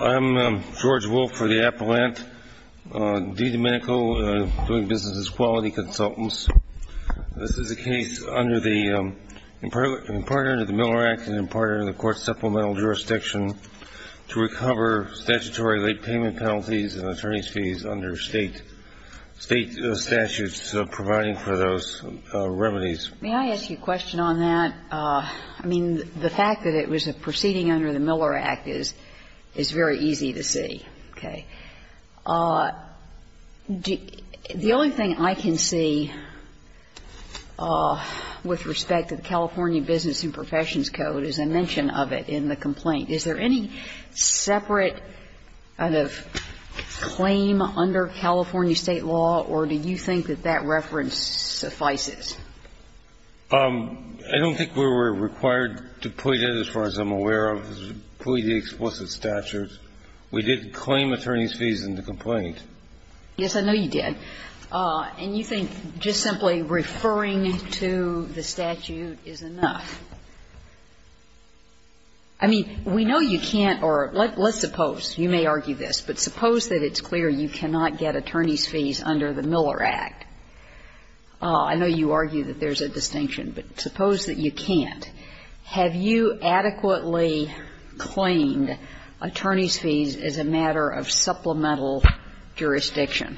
I'm George Wolfe for the Appellant. I'm Domenico. I'm doing business as quality consultants. This is a case under the, in part under the Miller Act and in part under the court's supplemental jurisdiction to recover statutory late payment penalties and attorney's fees under State, State statutes providing for those remedies. May I ask you a question on that? I mean, the fact that it was a proceeding under the Miller Act is, is very easy to see. Okay. The only thing I can see with respect to the California Business and Professions Code is a mention of it in the complaint. Is there any separate kind of claim under California State law, or do you think that that reference suffices? I don't think we were required to plead it, as far as I'm aware of, to plead the explicit statute. We didn't claim attorney's fees in the complaint. Yes, I know you did. And you think just simply referring to the statute is enough. I mean, we know you can't, or let's suppose, you may argue this, but suppose that it's clear you cannot get attorney's fees under the Miller Act. I know you argue that there's a distinction, but suppose that you can't. Have you adequately claimed attorney's fees as a matter of supplemental jurisdiction?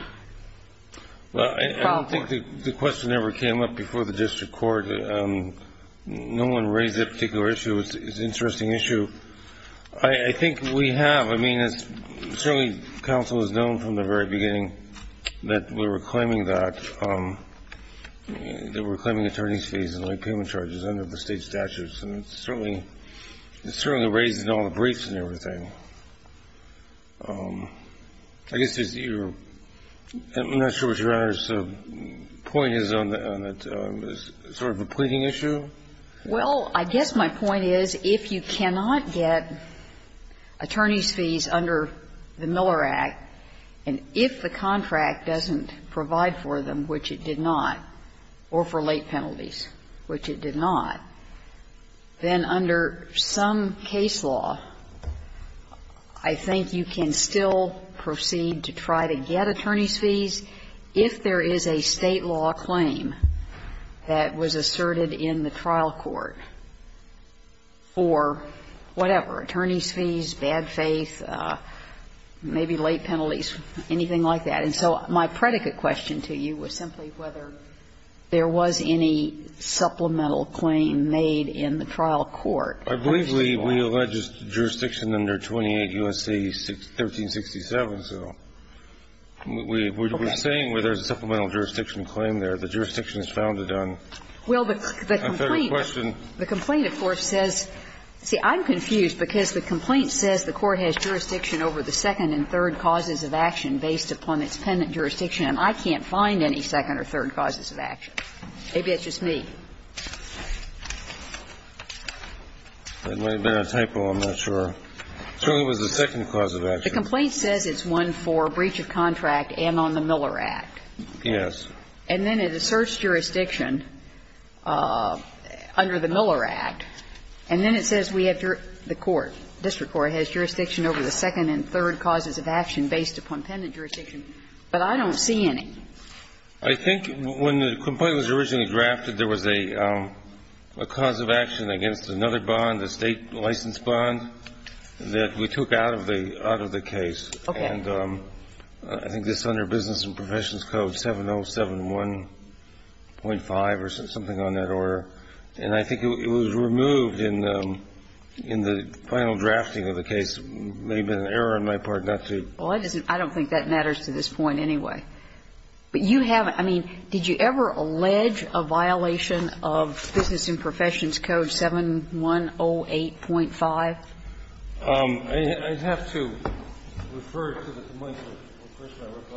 Well, I don't think the question ever came up before the district court. No one raised that particular issue. It's an interesting issue. I think we have. I mean, it's certainly counsel has known from the very beginning that we were claiming that, that we were I guess you're not sure what Your Honor's point is on that. It's sort of a pleading issue? Well, I guess my point is if you cannot get attorney's fees under the Miller Act, and if the contract doesn't provide for them, which it did not, or for late penalties, which it did not, then under some case law, I think you can still proceed to try to get attorney's fees if there is a State law claim that was asserted in the trial court for whatever, attorney's fees, bad faith, maybe late penalties, anything like that. And so my predicate question to you was simply whether there was any supplemental claim made in the trial court. I believe we allege jurisdiction under 28 U.S.C. 1367. So we're saying whether there's a supplemental jurisdiction claim there. The jurisdiction is founded on a federal question. Well, the complaint, of course, says see, I'm confused because the complaint says the court has jurisdiction over the second and third causes of action based upon its pendant jurisdiction, and I can't find any second or third causes of action. Maybe it's just me. It may have been a typo. I'm not sure. Surely it was the second cause of action. The complaint says it's one for breach of contract and on the Miller Act. Yes. And then it asserts jurisdiction under the Miller Act, and then it says we have jurisdiction over the second and third causes of action based upon pendant jurisdiction. But I don't see any. I think when the complaint was originally drafted, there was a cause of action against another bond, a State license bond, that we took out of the case. Okay. And I think this is under Business and Professions Code 7071.5 or something on that order, and I think it was removed in the final drafting of the case. It may have been an error on my part not to. Well, I don't think that matters to this point anyway. But you have to – I mean, did you ever allege a violation of Business and Professions Code 7108.5? I'd have to refer it to the complaint.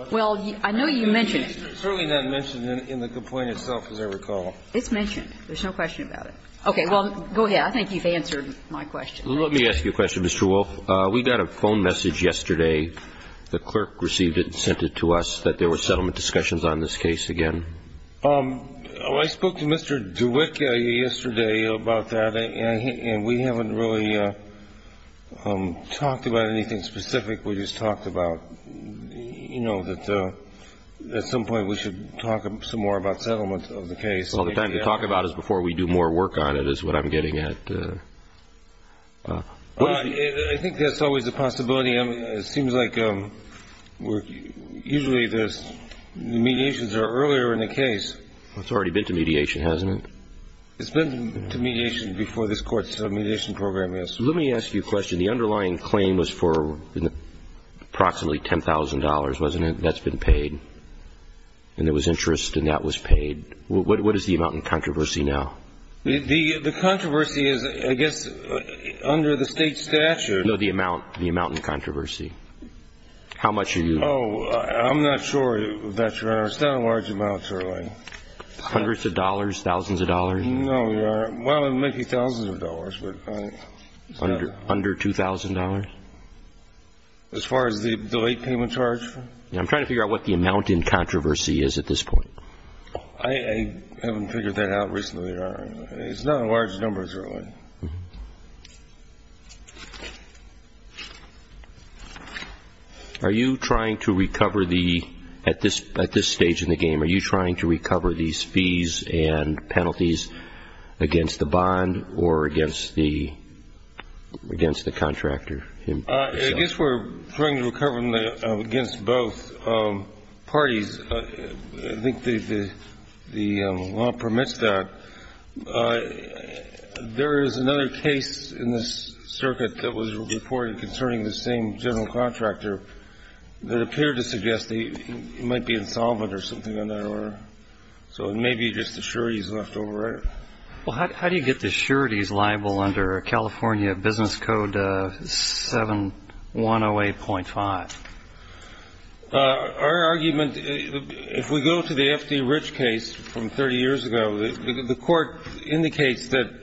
Well, I know you mentioned it. It's certainly not mentioned in the complaint itself, as I recall. It's mentioned. There's no question about it. Okay. Well, go ahead. I think you've answered my question. Let me ask you a question, Mr. Wolff. We got a phone message yesterday. The clerk received it and sent it to us that there were settlement discussions on this case again. I spoke to Mr. DeWitt yesterday about that, and we haven't really talked about anything specific. We just talked about, you know, that at some point we should talk some more about settlement of the case. Well, the time to talk about it is before we do more work on it is what I'm getting at. I think that's always a possibility. It seems like usually the mediations are earlier in the case. It's already been to mediation, hasn't it? It's been to mediation before this Court's mediation program, yes. Let me ask you a question. The underlying claim was for approximately $10,000, wasn't it? That's been paid. And there was interest, and that was paid. What is the amount in controversy now? The controversy is, I guess, under the State statute. No, the amount in controversy. How much are you? Oh, I'm not sure that you understand how large amounts are. Hundreds of dollars, thousands of dollars? No, well, maybe thousands of dollars. Under $2,000? As far as the late payment charge? I'm trying to figure out what the amount in controversy is at this point. I haven't figured that out recently, Your Honor. It's not in large numbers, really. Are you trying to recover the, at this stage in the game, are you trying to recover these fees and penalties against the bond or against the contractor himself? I guess we're trying to recover them against both parties. I think the law permits that. There is another case in this circuit that was reported concerning the same general contractor that appeared to suggest they might be insolvent or something on that order. So it may be just the sureties left over, right? Well, how do you get the sureties liable under California Business Code 7108.5? Our argument, if we go to the F.D. Rich case from 30 years ago, the court indicates that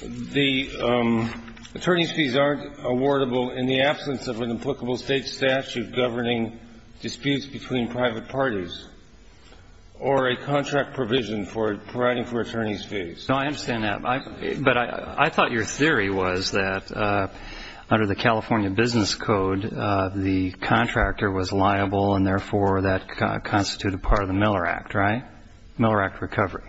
the attorney's fees aren't awardable in the absence of an applicable state statute governing disputes between private parties or a contract provision for providing for attorney's fees. No, I understand that. But I thought your theory was that under the California Business Code, the contractor was liable and therefore that constituted part of the Miller Act, right? Miller Act recovery.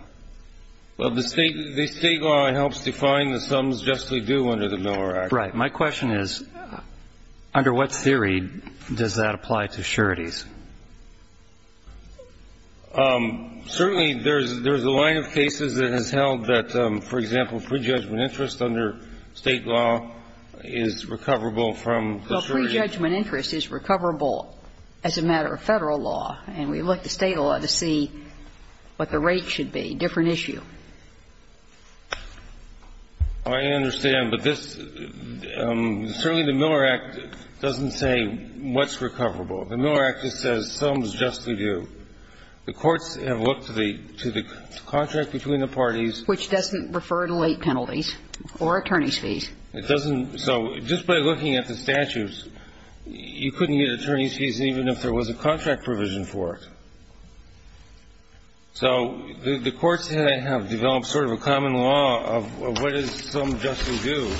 Well, the state law helps define the sums justly due under the Miller Act. Right. My question is, under what theory does that apply to sureties? Certainly, there's a line of cases that has held that, for example, prejudgment interest under state law is recoverable from the surety. Well, prejudgment interest is recoverable as a matter of Federal law, and we look to state law to see what the rate should be, different issue. I understand, but this, certainly the Miller Act doesn't say what's recoverable. The Miller Act just says sums justly due. The courts have looked to the contract between the parties. Which doesn't refer to late penalties or attorney's fees. It doesn't. So just by looking at the statutes, you couldn't get attorney's fees even if there was a contract provision for it. So the courts have developed sort of a common law of what is sums justly due.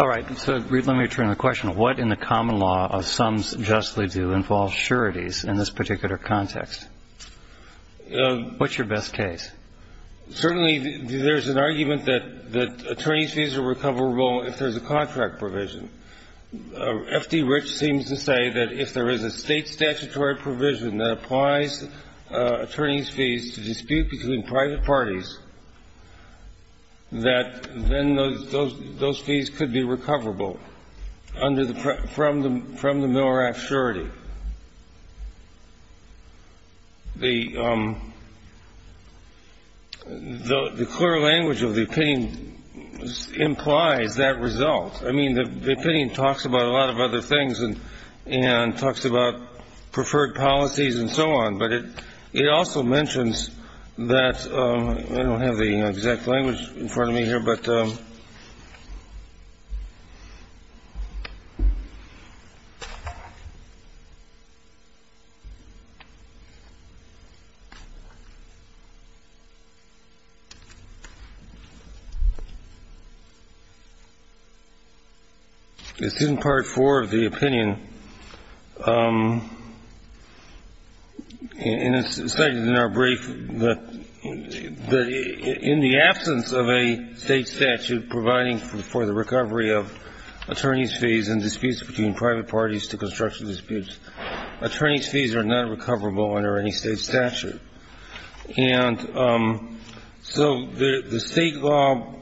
All right. So, Reed, let me return the question. What in the common law of sums justly due involves sureties in this particular context? What's your best case? Certainly, there's an argument that attorney's fees are recoverable if there's a contract provision. F.D. Rich seems to say that if there is a state statutory provision that applies attorney's fees to dispute between private parties, that then those fees could be recoverable from the Miller Act surety. The clear language of the opinion implies that result. I mean, the opinion talks about a lot of other things and talks about preferred policies and so on. But it also mentions that I don't have the exact language in front of me here, but. It's in part four of the opinion. And it's stated in our brief that in the absence of a state statute providing for the recovery of attorney's fees and disputes between private parties to construction disputes, attorney's fees are not recoverable under any state statute. And so the state law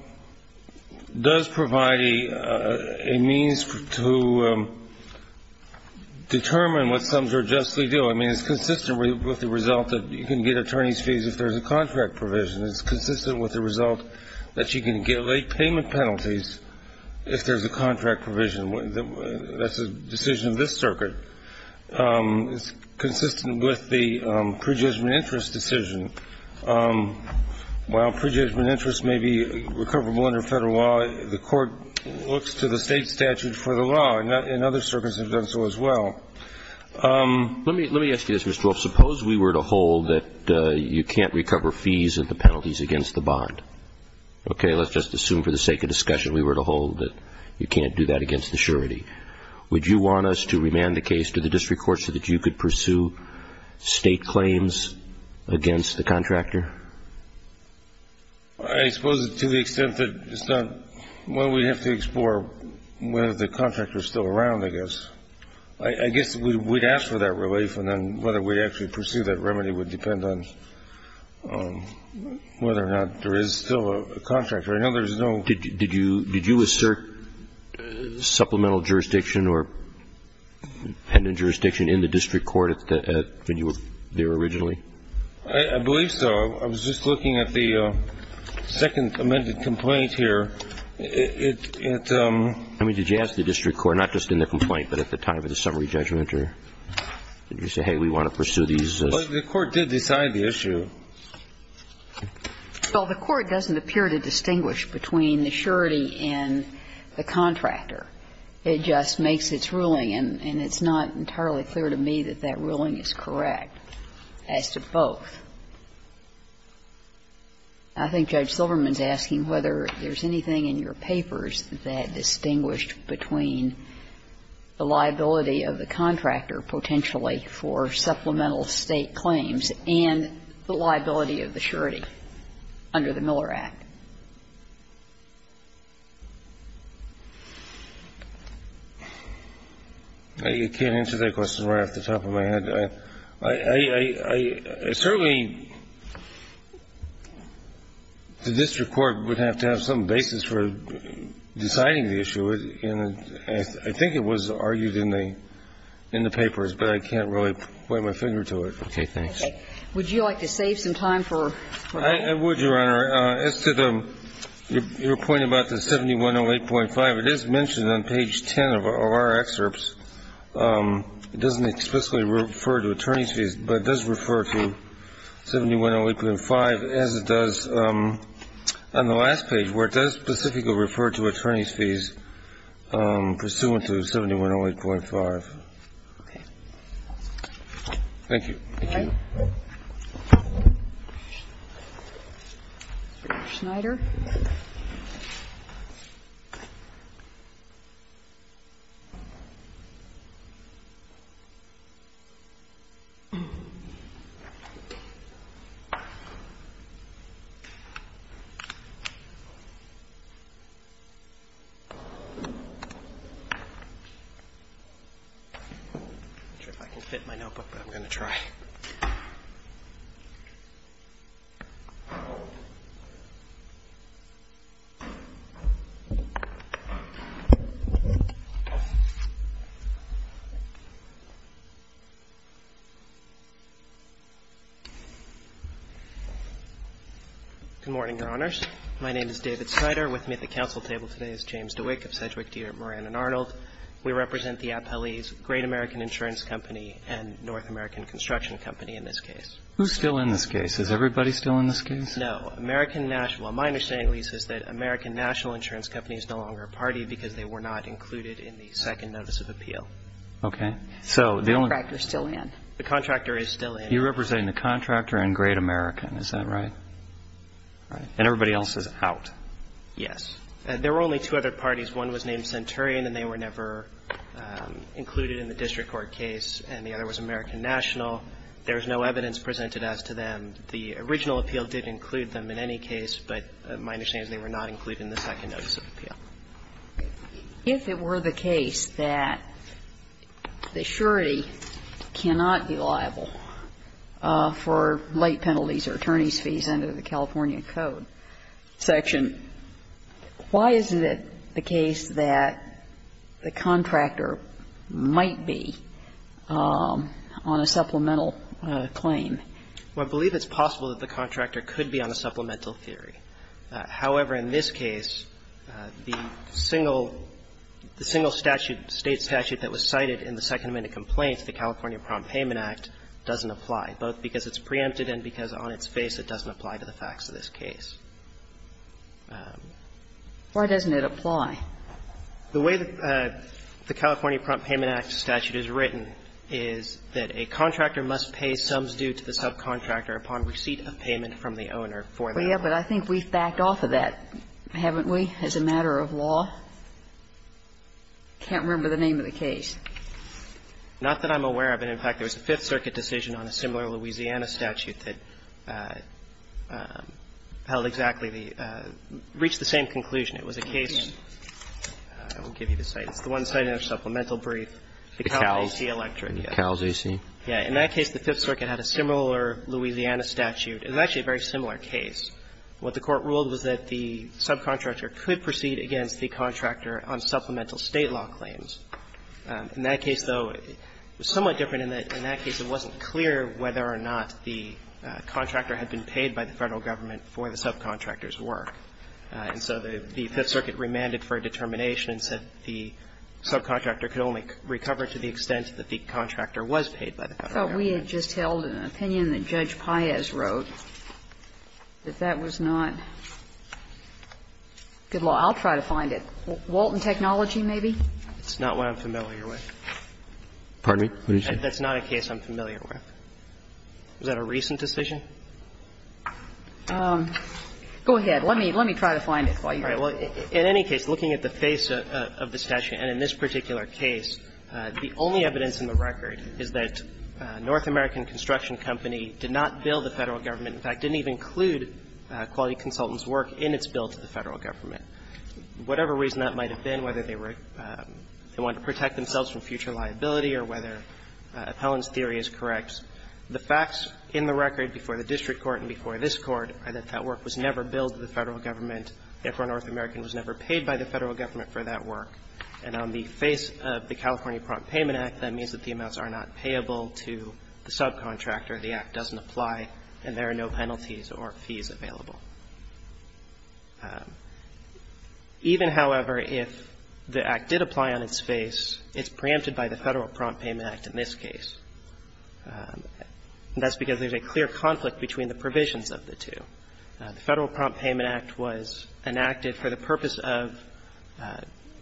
does provide a means to determine what sums are justly due. I mean, it's consistent with the result that you can get attorney's fees if there's a contract provision. It's consistent with the result that you can get late payment penalties if there's a contract provision. That's a decision of this circuit. It's consistent with the prejudgment interest decision. While prejudgment interest may be recoverable under Federal law, the Court looks to the state statute for the law. And other circuits have done so as well. Let me ask you this, Mr. Wolf. Suppose we were to hold that you can't recover fees of the penalties against the bond. Okay. Let's just assume for the sake of discussion we were to hold that you can't do that against the surety. Would you want us to remand the case to the district court so that you could pursue state claims against the contractor? I suppose to the extent that it's not one we have to explore whether the contractor is still around, I guess. I guess we'd ask for that relief and then whether we'd actually pursue that remedy would depend on whether or not there is still a contractor. I know there's no ---- Did you assert supplemental jurisdiction or dependent jurisdiction in the district court when you were there originally? I believe so. I was just looking at the second amended complaint here. I mean, did you ask the district court, not just in the complaint, but at the time of the summary judgment, or did you say, hey, we want to pursue these? The Court did decide the issue. Well, the Court doesn't appear to distinguish between the surety and the contractor. It just makes its ruling, and it's not entirely clear to me that that ruling is correct as to both. I think Judge Silverman is asking whether there's anything in your papers that distinguished between the liability of the contractor potentially for supplemental state claims and the liability of the surety under the Miller Act. I can't answer that question right off the top of my head. I certainly ---- the district court would have to have some basis for deciding the issue, and I think it was argued in the papers, but I can't really point my finger to it. Okay. Thanks. Okay. Would you like to save some time for ---- I would, Your Honor. As to the ---- your point about the 7108.5, it is mentioned on page 10 of our excerpts. It doesn't explicitly refer to attorney's fees, but it does refer to 7108.5 as it does on the last page, where it does specifically refer to attorney's fees pursuant to 7108.5. Okay. Thank you. Thank you. Thank you. Mr. Schneider. I'm not sure if I can fit my notebook, but I'm going to try. Good morning, Your Honors. My name is David Schneider. With me at the counsel table today is James DeWick of Sedgwick, Deere, Moran & Arnold. We represent the Appellee's Great American Insurance Company and North American Construction Company in this case. Who's still in this case? Is everybody still in this case? No. American National – well, my understanding, at least, is that American National Insurance Company is no longer a party because they were not included in the second notice of appeal. Okay. So the only – The contractor's still in. The contractor is still in. You're representing the contractor and Great American. Is that right? Right. And everybody else is out. Yes. There were only two other parties. One was named Centurion, and they were never included in the district court case, and the other was American National. There is no evidence presented as to them. The original appeal did include them in any case, but my understanding is they were not included in the second notice of appeal. If it were the case that the surety cannot be liable for late penalties or attorney's fees under the California Code section, why is it the case that the contractor might be on a supplemental claim? Well, I believe it's possible that the contractor could be on a supplemental theory. However, in this case, the single – the single statute, State statute that was cited in the Second Amendment complaints, the California Prompt Payment Act, doesn't apply, both because it's preempted and because on its face it doesn't apply to the facts of this case. Why doesn't it apply? The way the California Prompt Payment Act statute is written is that a contractor must pay sums due to the subcontractor upon receipt of payment from the owner for that. Well, yeah, but I think we've backed off of that, haven't we, as a matter of law? I can't remember the name of the case. Not that I'm aware of. In fact, there was a Fifth Circuit decision on a similar Louisiana statute that held exactly the – reached the same conclusion. It was a case – I won't give you the site. It's the one cited in our supplemental brief. The Cal J.C. Electric. The Cal J.C. Yeah. In that case, the Fifth Circuit had a similar Louisiana statute. It was actually a very similar case. What the Court ruled was that the subcontractor could proceed against the contractor on supplemental State law claims. In that case, though, it was somewhat different in that in that case it wasn't clear whether or not the contractor had been paid by the Federal government for the subcontractor's work. And so the Fifth Circuit remanded for a determination and said the subcontractor could only recover to the extent that the contractor was paid by the Federal government. But we had just held an opinion that Judge Paez wrote that that was not good law. I'll try to find it. Walton Technology, maybe? It's not one I'm familiar with. Pardon me? What did you say? That's not a case I'm familiar with. Was that a recent decision? Go ahead. Let me try to find it while you're at it. All right. Well, in any case, looking at the face of the statute and in this particular case, the only evidence in the record is that North American Construction Company did not bill the Federal government, in fact, didn't even include Quality Consultants' work in its bill to the Federal government. Whatever reason that might have been, whether they were they wanted to protect themselves from future liability or whether Appellant's theory is correct, the facts are that the California Prompt Payment Act was never billed to the Federal government, therefore, North American was never paid by the Federal government for that work. And on the face of the California Prompt Payment Act, that means that the amounts are not payable to the subcontractor, the act doesn't apply, and there are no penalties or fees available. Even, however, if the act did apply on its face, it's preempted by the Federal Prompt Payment Act in this case. And that's because there's a clear conflict between the provisions of the two. The Federal Prompt Payment Act was enacted for the purpose of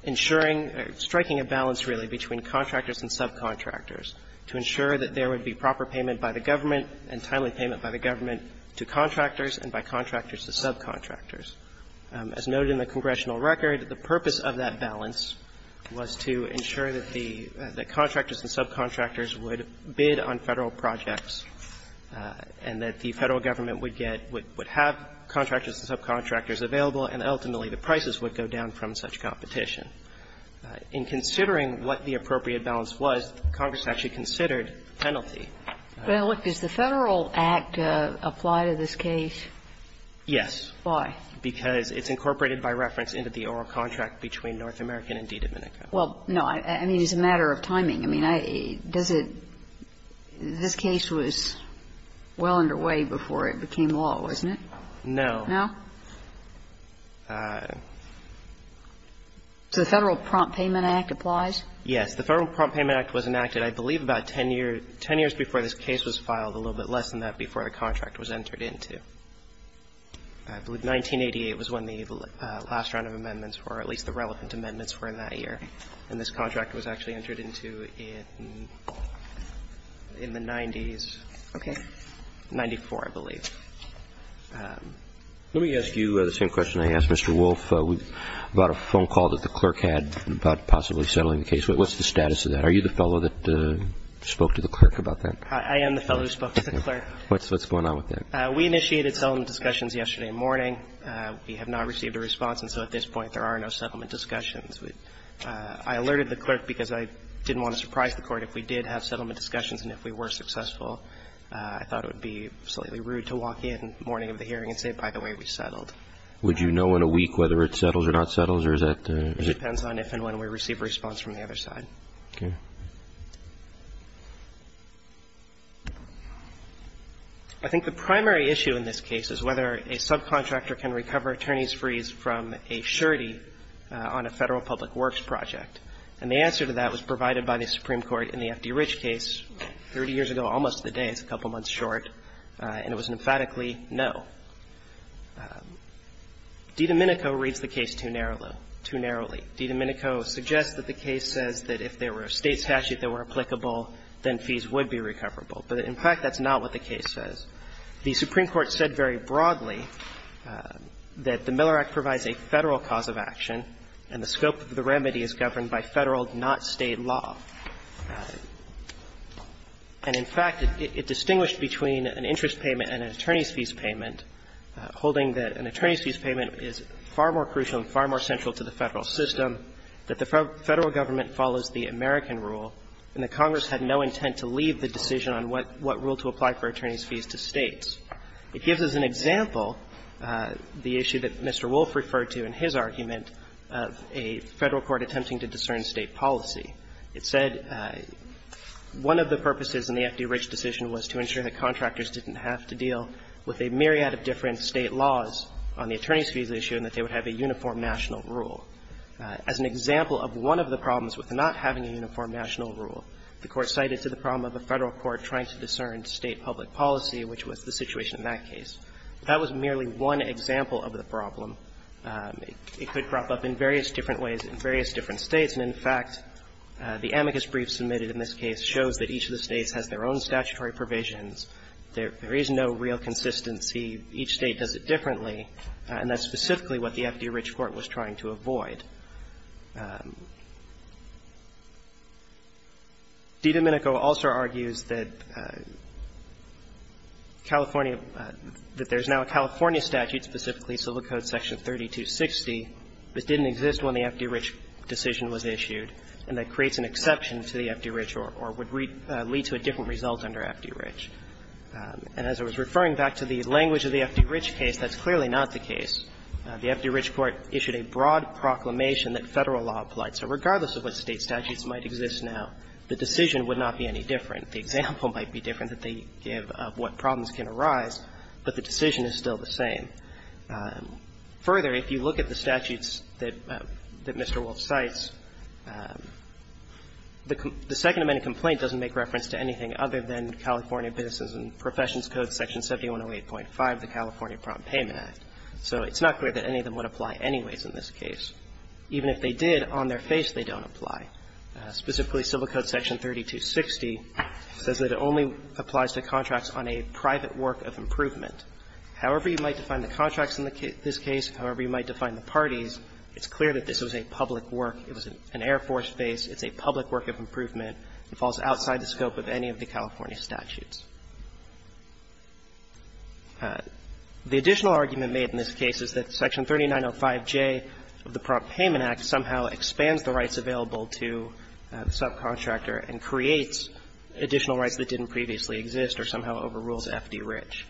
ensuring or striking a balance, really, between contractors and subcontractors to ensure that there would be proper payment by the government and timely payment by the government to contractors and by contractors to subcontractors. As noted in the congressional record, the purpose of that balance was to ensure that the contractors and subcontractors would bid on Federal projects and that the Federal government would get, would have contractors and subcontractors available, and ultimately the prices would go down from such competition. In considering what the appropriate balance was, Congress actually considered the penalty. Sotomayor, does the Federal act apply to this case? Yes. Why? Because it's incorporated by reference into the oral contract between North American and DiDomenico. Well, no. I mean, it's a matter of timing. I mean, does it – this case was well underway before it became law, wasn't it? No. No? So the Federal Prompt Payment Act applies? Yes. The Federal Prompt Payment Act was enacted, I believe, about 10 years – 10 years before this case was filed, a little bit less than that before the contract was entered into. I believe 1988 was when the last round of amendments were, or at least the relevant amendments were in that year. And this contract was actually entered into in the 90s. Okay. 1994, I believe. Let me ask you the same question I asked Mr. Wolf about a phone call that the clerk had about possibly settling the case. What's the status of that? Are you the fellow that spoke to the clerk about that? I am the fellow who spoke to the clerk. What's going on with that? We initiated settlement discussions yesterday morning. We have not received a response. And so at this point, there are no settlement discussions. I alerted the clerk because I didn't want to surprise the Court. If we did have settlement discussions and if we were successful, I thought it would be slightly rude to walk in the morning of the hearing and say, by the way, we settled. Would you know in a week whether it settles or not settles, or is that the – It depends on if and when we receive a response from the other side. Okay. I think the primary issue in this case is whether a subcontractor can recover attorneys' frees from a surety on a Federal Public Works project. And the answer to that was provided by the Supreme Court in the F.D. Rich case 30 years ago, almost to the day. It's a couple months short. And it was emphatically no. DiDomenico reads the case too narrowly. DiDomenico suggests that the case says that if there were a State statute that were applicable, then fees would be recoverable. But in fact, that's not what the case says. The Supreme Court said very broadly that the Miller Act provides a Federal cause of action and the scope of the remedy is governed by Federal, not State, law. And in fact, it distinguished between an interest payment and an attorney's fees payment, holding that an attorney's fees payment is far more crucial and far more central to the Federal system, that the Federal government follows the American rule, and that Congress had no intent to leave the decision on what rule to apply for attorney's fees to States. It gives us an example, the issue that Mr. Wolf referred to in his argument, of a Federal court attempting to discern State policy. It said one of the purposes in the F.D. Rich decision was to ensure that contractors didn't have to deal with a myriad of different State laws on the attorney's fees issue and that they would have a uniform national rule. As an example of one of the problems with not having a uniform national rule, the Court cited to the problem of a Federal court trying to discern State public policy, which was the situation in that case. That was merely one example of the problem. It could crop up in various different ways in various different States. And in fact, the amicus brief submitted in this case shows that each of the States has their own statutory provisions. There is no real consistency. Each State does it differently, and that's specifically what the F.D. Rich court was trying to avoid. DiDomenico also argues that California – that there's now a California statute, specifically Civil Code section 3260, that didn't exist when the F.D. Rich decision was issued and that creates an exception to the F.D. Rich or would lead to a different result under F.D. Rich. And as I was referring back to the language of the F.D. Rich case, that's clearly not the case. The F.D. Rich court issued a broad proclamation that Federal law applied. So regardless of what State statutes might exist now, the decision would not be any different. The example might be different that they give of what problems can arise, but the decision is still the same. Further, if you look at the statutes that Mr. Wolfe cites, the Second Amendment doesn't make reference to anything other than California Business and Professions Code section 7108.5 of the California Prompt Payment Act. So it's not clear that any of them would apply anyways in this case. Even if they did, on their face, they don't apply. Specifically, Civil Code section 3260 says that it only applies to contracts on a private work of improvement. However you might define the contracts in this case, however you might define the parties, it's clear that this was a public work. It was an Air Force base. It's a public work of improvement. It falls outside the scope of any of the California statutes. The additional argument made in this case is that section 3905J of the Prompt Payment Act somehow expands the rights available to the subcontractor and creates additional rights that didn't previously exist or somehow overrules F.D. Rich.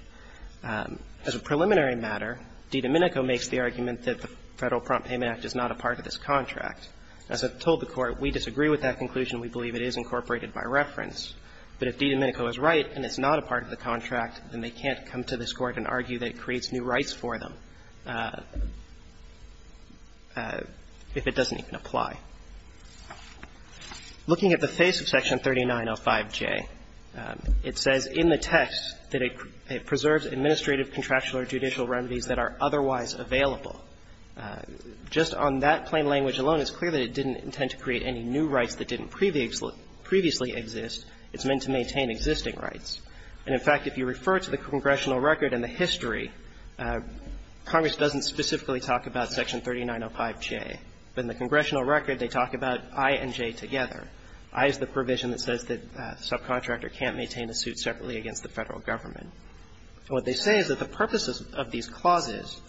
As a preliminary matter, DiDomenico makes the argument that the Federal Prompt Payment Act is not a part of this contract. As I've told the Court, we disagree with that conclusion. We believe it is incorporated by reference. But if DiDomenico is right and it's not a part of the contract, then they can't come to this Court and argue that it creates new rights for them if it doesn't even apply. Looking at the face of section 3905J, it says in the text that it preserves administrative, contractual or judicial remedies that are otherwise available. Just on that plain language alone, it's clear that it didn't intend to create any new rights that didn't previously exist. It's meant to maintain existing rights. And, in fact, if you refer to the congressional record and the history, Congress doesn't specifically talk about section 3905J. But in the congressional record, they talk about I and J together. I is the provision that says that the subcontractor can't maintain a suit separately against the Federal Government. And what they say is that the purpose of these clauses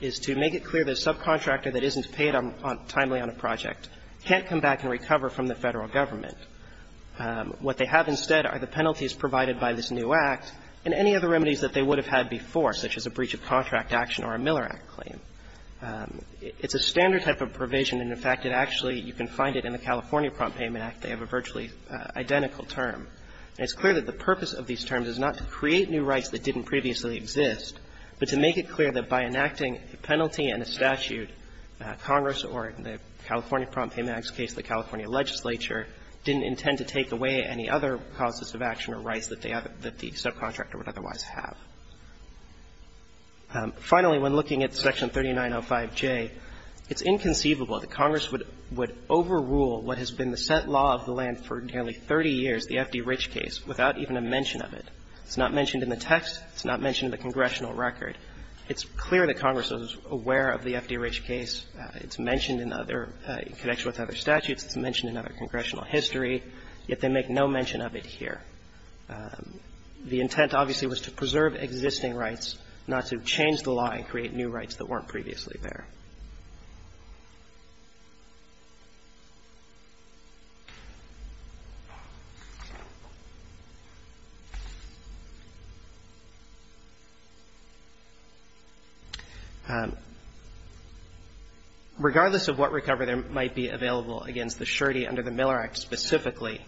is to make it clear that a subcontractor that isn't paid timely on a project can't come back and recover from the Federal Government. What they have instead are the penalties provided by this new Act and any other remedies that they would have had before, such as a breach of contract action or a Miller Act claim. It's a standard type of provision, and, in fact, it actually you can find it in the California Prompt Payment Act. They have a virtually identical term. And it's clear that the purpose of these terms is not to create new rights that didn't previously exist, but to make it clear that by enacting a penalty and a statute, Congress or the California Prompt Payment Act's case, the California legislature, didn't intend to take away any other causes of action or rights that they have that the subcontractor would otherwise have. Finally, when looking at section 3905J, it's inconceivable that Congress would overrule what has been the set law of the land for nearly 30 years, the F.D. Rich case, without even a mention of it. It's not mentioned in the text. It's not mentioned in the congressional record. It's clear that Congress is aware of the F.D. Rich case. It's mentioned in other – in connection with other statutes. It's mentioned in other congressional history. Yet they make no mention of it here. The intent, obviously, was to preserve existing rights, not to change the law and create new rights that weren't previously there. Regardless of what recovery there might be available against the surety under the Miller Act specifically,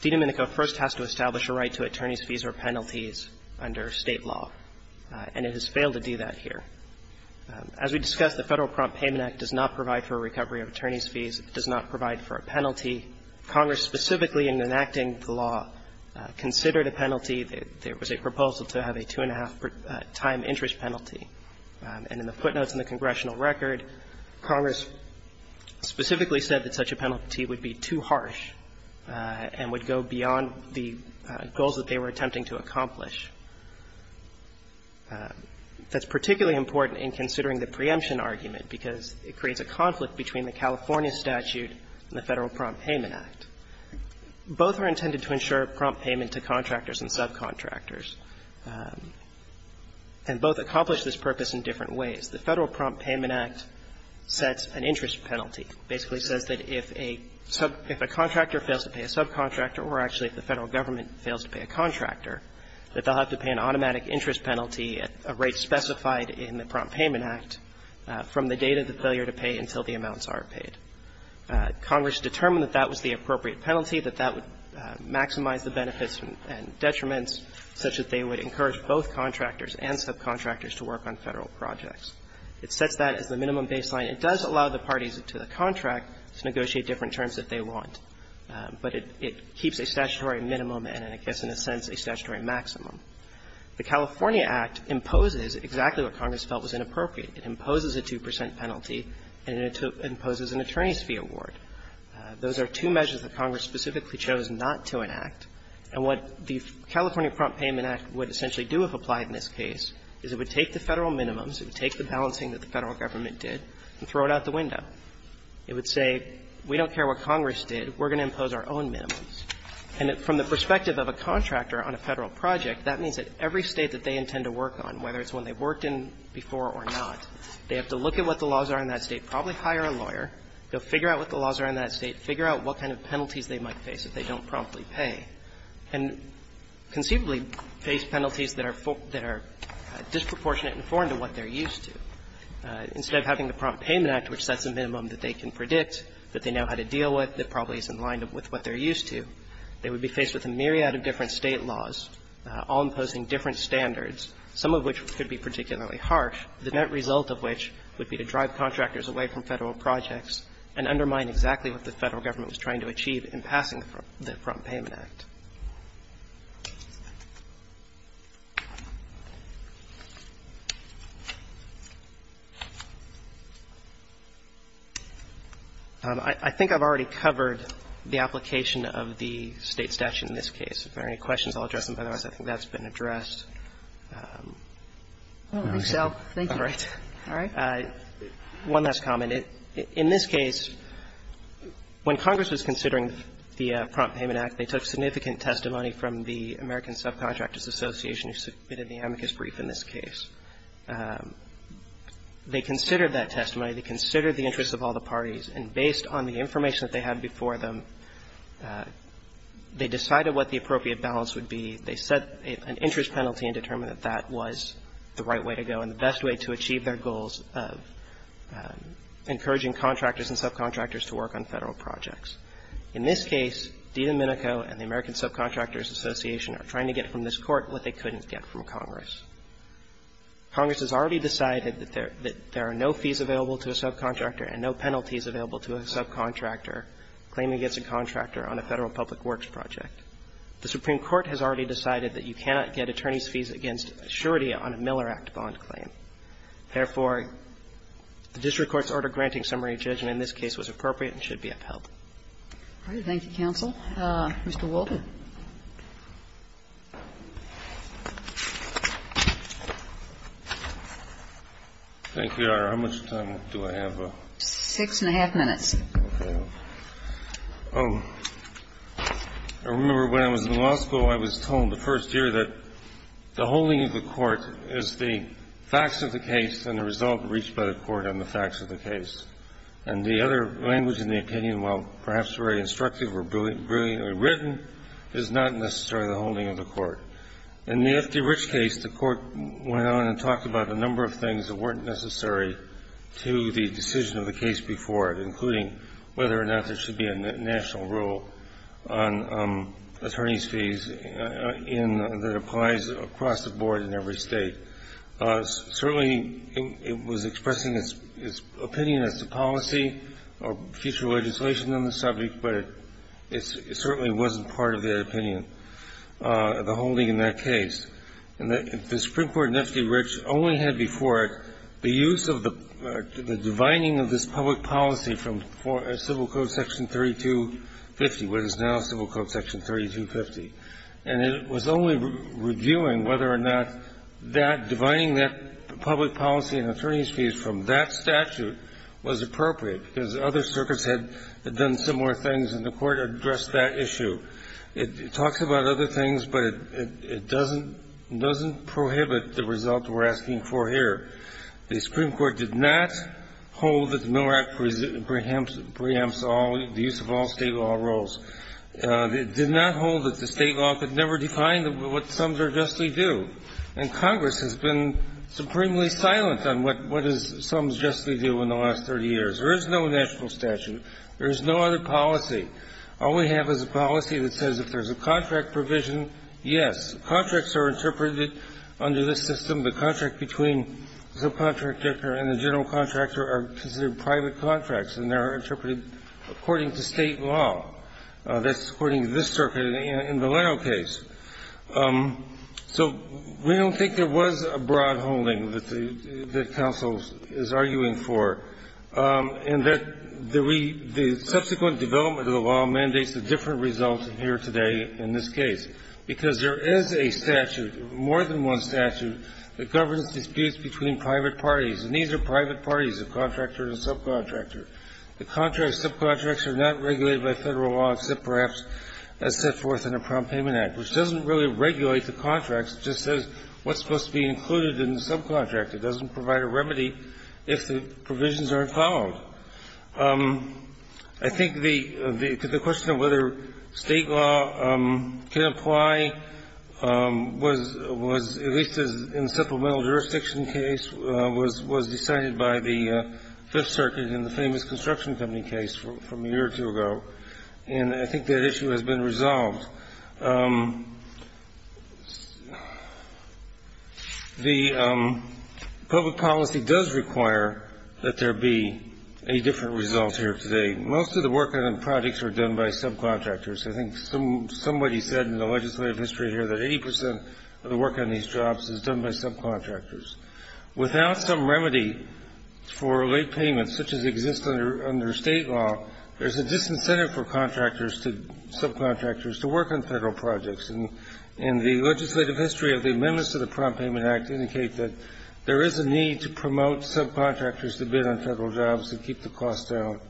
Domenico first has to establish a right to attorney's fees or penalties under State law, and it has failed to do that here. The Federal Prompt Payment Act does not provide for a recovery of attorney's fees. It does not provide for a penalty. Congress specifically, in enacting the law, considered a penalty. There was a proposal to have a two-and-a-half-time interest penalty. And in the footnotes in the congressional record, Congress specifically said that such a penalty would be too harsh and would go beyond the goals that they were attempting to accomplish. That's particularly important in considering the preemption argument because it creates a conflict between the California statute and the Federal Prompt Payment Act. Both are intended to ensure prompt payment to contractors and subcontractors, and both accomplish this purpose in different ways. The Federal Prompt Payment Act sets an interest penalty, basically says that if a sub – if a contractor fails to pay a subcontractor, or actually if the Federal government fails to pay a contractor, that they'll have to pay an automatic interest penalty at a rate specified in the Prompt Payment Act from the date of the failure to pay until the amounts are paid. Congress determined that that was the appropriate penalty, that that would maximize the benefits and detriments such that they would encourage both contractors and subcontractors to work on Federal projects. It sets that as the minimum baseline. It does allow the parties to the contract to negotiate different terms that they want, but it keeps a statutory minimum and, I guess, in a sense, a statutory maximum. The California Act imposes exactly what Congress felt was inappropriate. It imposes a 2 percent penalty and it imposes an attorney's fee award. Those are two measures that Congress specifically chose not to enact. And what the California Prompt Payment Act would essentially do if applied in this case is it would take the Federal minimums, it would take the balancing that the Federal government did, and throw it out the window. It would say, we don't care what Congress did, we're going to impose our own minimums. And from the perspective of a contractor on a Federal project, that means that every State that they intend to work on, whether it's one they've worked in before or not, they have to look at what the laws are in that State, probably hire a lawyer, go figure out what the laws are in that State, figure out what kind of penalties they might face if they don't promptly pay, and conceivably face penalties that are for – that are disproportionate and foreign to what they're used to. Instead of having the Prompt Payment Act, which sets a minimum that they can predict, that they know how to deal with, that probably is in line with what they're used to, they would be faced with a myriad of different State laws, all imposing different standards, some of which could be particularly harsh, the net result of which would be to drive contractors away from Federal projects and undermine exactly what the Federal government was trying to achieve in passing the Prompt Payment Act. I think I've already covered the application of the State statute in this case. If there are any questions, I'll address them, otherwise I think that's been addressed. All right. One last comment. In this case, when Congress was considering the Prompt Payment Act, they took significant testimony from the American Subcontractors Association, who submitted the amicus brief in this case. They considered that testimony. They considered the interests of all the parties. And based on the information that they had before them, they decided what the appropriate balance would be. They set an interest penalty and determined that that was the right way to go and the best way to achieve their goals of encouraging contractors and subcontractors to work on Federal projects. In this case, DiDomenico and the American Subcontractors Association are trying to get from this Court what they couldn't get from Congress. Congress has already decided that there are no fees available to a subcontractor and no penalties available to a subcontractor claiming against a contractor on a Federal public works project. The Supreme Court has already decided that you cannot get attorney's fees against a surety on a Miller Act bond claim. Therefore, the district court's order granting summary judgment in this case was appropriate and should be upheld. Thank you, counsel. Mr. Walden. Thank you, Your Honor. How much time do I have? Six and a half minutes. Okay. I remember when I was in law school, I was told the first year that the holding of the court is the facts of the case and the result reached by the court on the facts of the case. And the other language in the opinion, while perhaps very instructive or brilliantly written, is not necessarily the holding of the court. In the F.D. Rich case, the court went on and talked about a number of things that weren't necessary to the decision of the case before it, including whether or not there should be a national rule on attorney's fees in the replies across the board in every state. Certainly, it was expressing its opinion as to policy or future legislation on the subject, but it certainly wasn't part of their opinion, the holding in that case. And the Supreme Court in F.D. Rich only had before it the use of the divining of this public policy from Civil Code section 3250, what is now Civil Code section 3250. And it was only reviewing whether or not that divining that public policy and attorney's fees from that statute was appropriate, because other circuits had done similar things and the court addressed that issue. It talks about other things, but it doesn't prohibit the result we're asking for here. The Supreme Court did not hold that the Miller Act preempts all the use of all State law rules. It did not hold that the State law could never define what sums are justly due. And Congress has been supremely silent on what is sums justly due in the last 30 years. There is no national statute. There is no other policy. All we have is a policy that says if there's a contract provision, yes, contracts are interpreted under this system. The contract between the subcontractor and the general contractor are considered private contracts and they are interpreted according to State law. That's according to this circuit in the Laro case. So we don't think there was a broad holding that the counsel is arguing for, and that the subsequent development of the law mandates a different result here today in this case, because there is a statute, more than one statute, that governs disputes between private parties, and these are private parties, the contractor and subcontractor. The contract subcontracts are not regulated by Federal law except perhaps as set forth in a Prompt Payment Act, which doesn't really regulate the contracts. It just says what's supposed to be included in the subcontract. It doesn't provide a remedy if the provisions aren't followed. I think the question of whether State law can apply was at least in the supplemental jurisdiction case was decided by the Fifth Circuit in the famous construction company case from a year or two ago, and I think that issue has been resolved. The public policy does require that there be a different result here today. Most of the work on projects are done by subcontractors. I think somebody said in the legislative history here that 80 percent of the work on these jobs is done by subcontractors. Without some remedy for late payments, such as exists under State law, there is a disincentive for contractors to, subcontractors, to work on Federal projects, and the legislative history of the amendments to the Prompt Payment Act indicate that there is a need to promote subcontractors to bid on Federal jobs and keep the cost down.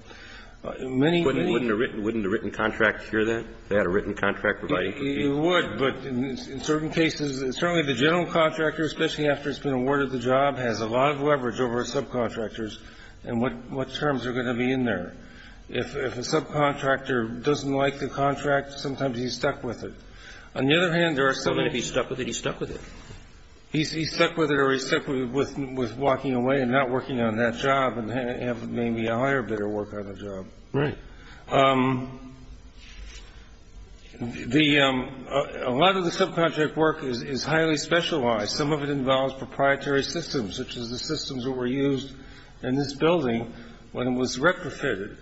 Many, many of these are not. Kennedy, wouldn't a written contract cure that? They had a written contract providing for these? It would, but in certain cases, certainly the general contractor, especially after it's been awarded the job, has a lot of leverage over subcontractors and what terms are going to be in there. If a subcontractor doesn't like the contract, sometimes he's stuck with it. On the other hand, there are some of these. So if he's stuck with it, he's stuck with it? He's stuck with it or he's stuck with walking away and not working on that job and have maybe a higher bidder work on the job. Right. The – a lot of the subcontract work is highly specialized. Some of it involves proprietary systems, such as the systems that were used in this building when it was retrofitted.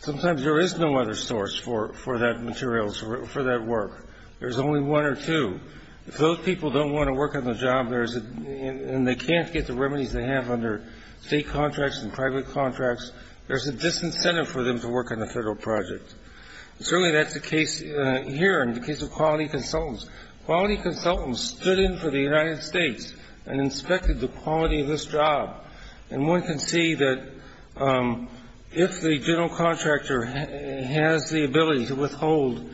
Sometimes there is no other source for that material, for that work. There's only one or two. If those people don't want to work on the job, there's a – and they can't get the remedies they have under State contracts and private contracts, there's a disincentive for them to work on the Federal project. And certainly that's the case here in the case of quality consultants. Quality consultants stood in for the United States and inspected the quality of this job. And one can see that if the general contractor has the ability to withhold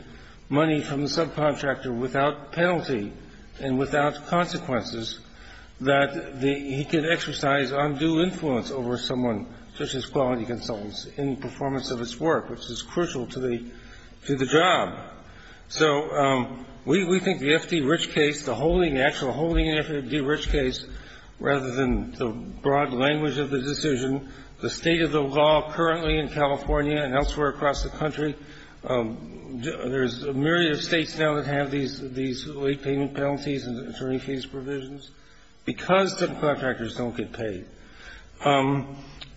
money from the subcontractor without penalty and without consequences, that the – he can exercise undue influence over someone, such as quality consultants, in performance of his work, which is crucial to the – to the job. So we think the FDRICH case, the holding – the actual holding in FDRICH case, rather than the broad language of the decision, the state of the law currently in California and elsewhere across the country, there's a myriad of States now that have these late payment penalties and attorney fees provisions, because subcontractors don't get paid.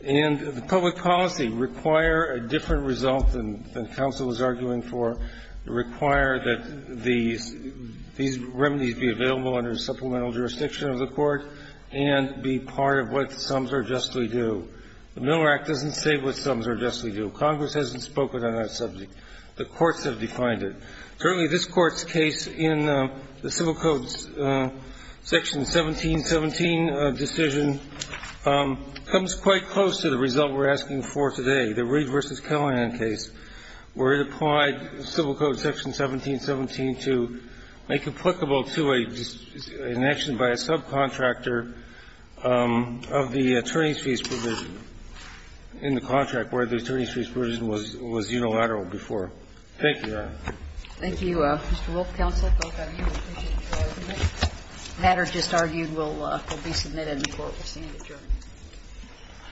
And the public policy require a different result than counsel was arguing for, require that these – these remedies be available under supplemental jurisdiction of the court and be part of what sums are justly due. The Miller Act doesn't say what sums are justly due. Congress hasn't spoken on that subject. The courts have defined it. Certainly, this Court's case in the Civil Codes Section 1717 decision comes quite close to the result we're asking for today, the Reed v. Callahan case, where it applied Civil Code Section 1717 to make applicable to a – an action by a subcontractor of the attorney's fees provision in the contract where the attorney's fees provision was unilateral before. Thank you, Your Honor. Thank you, Mr. Wolf. Counsel, both of you, we appreciate your argument. The matter just argued will be submitted and the court will stand adjourned.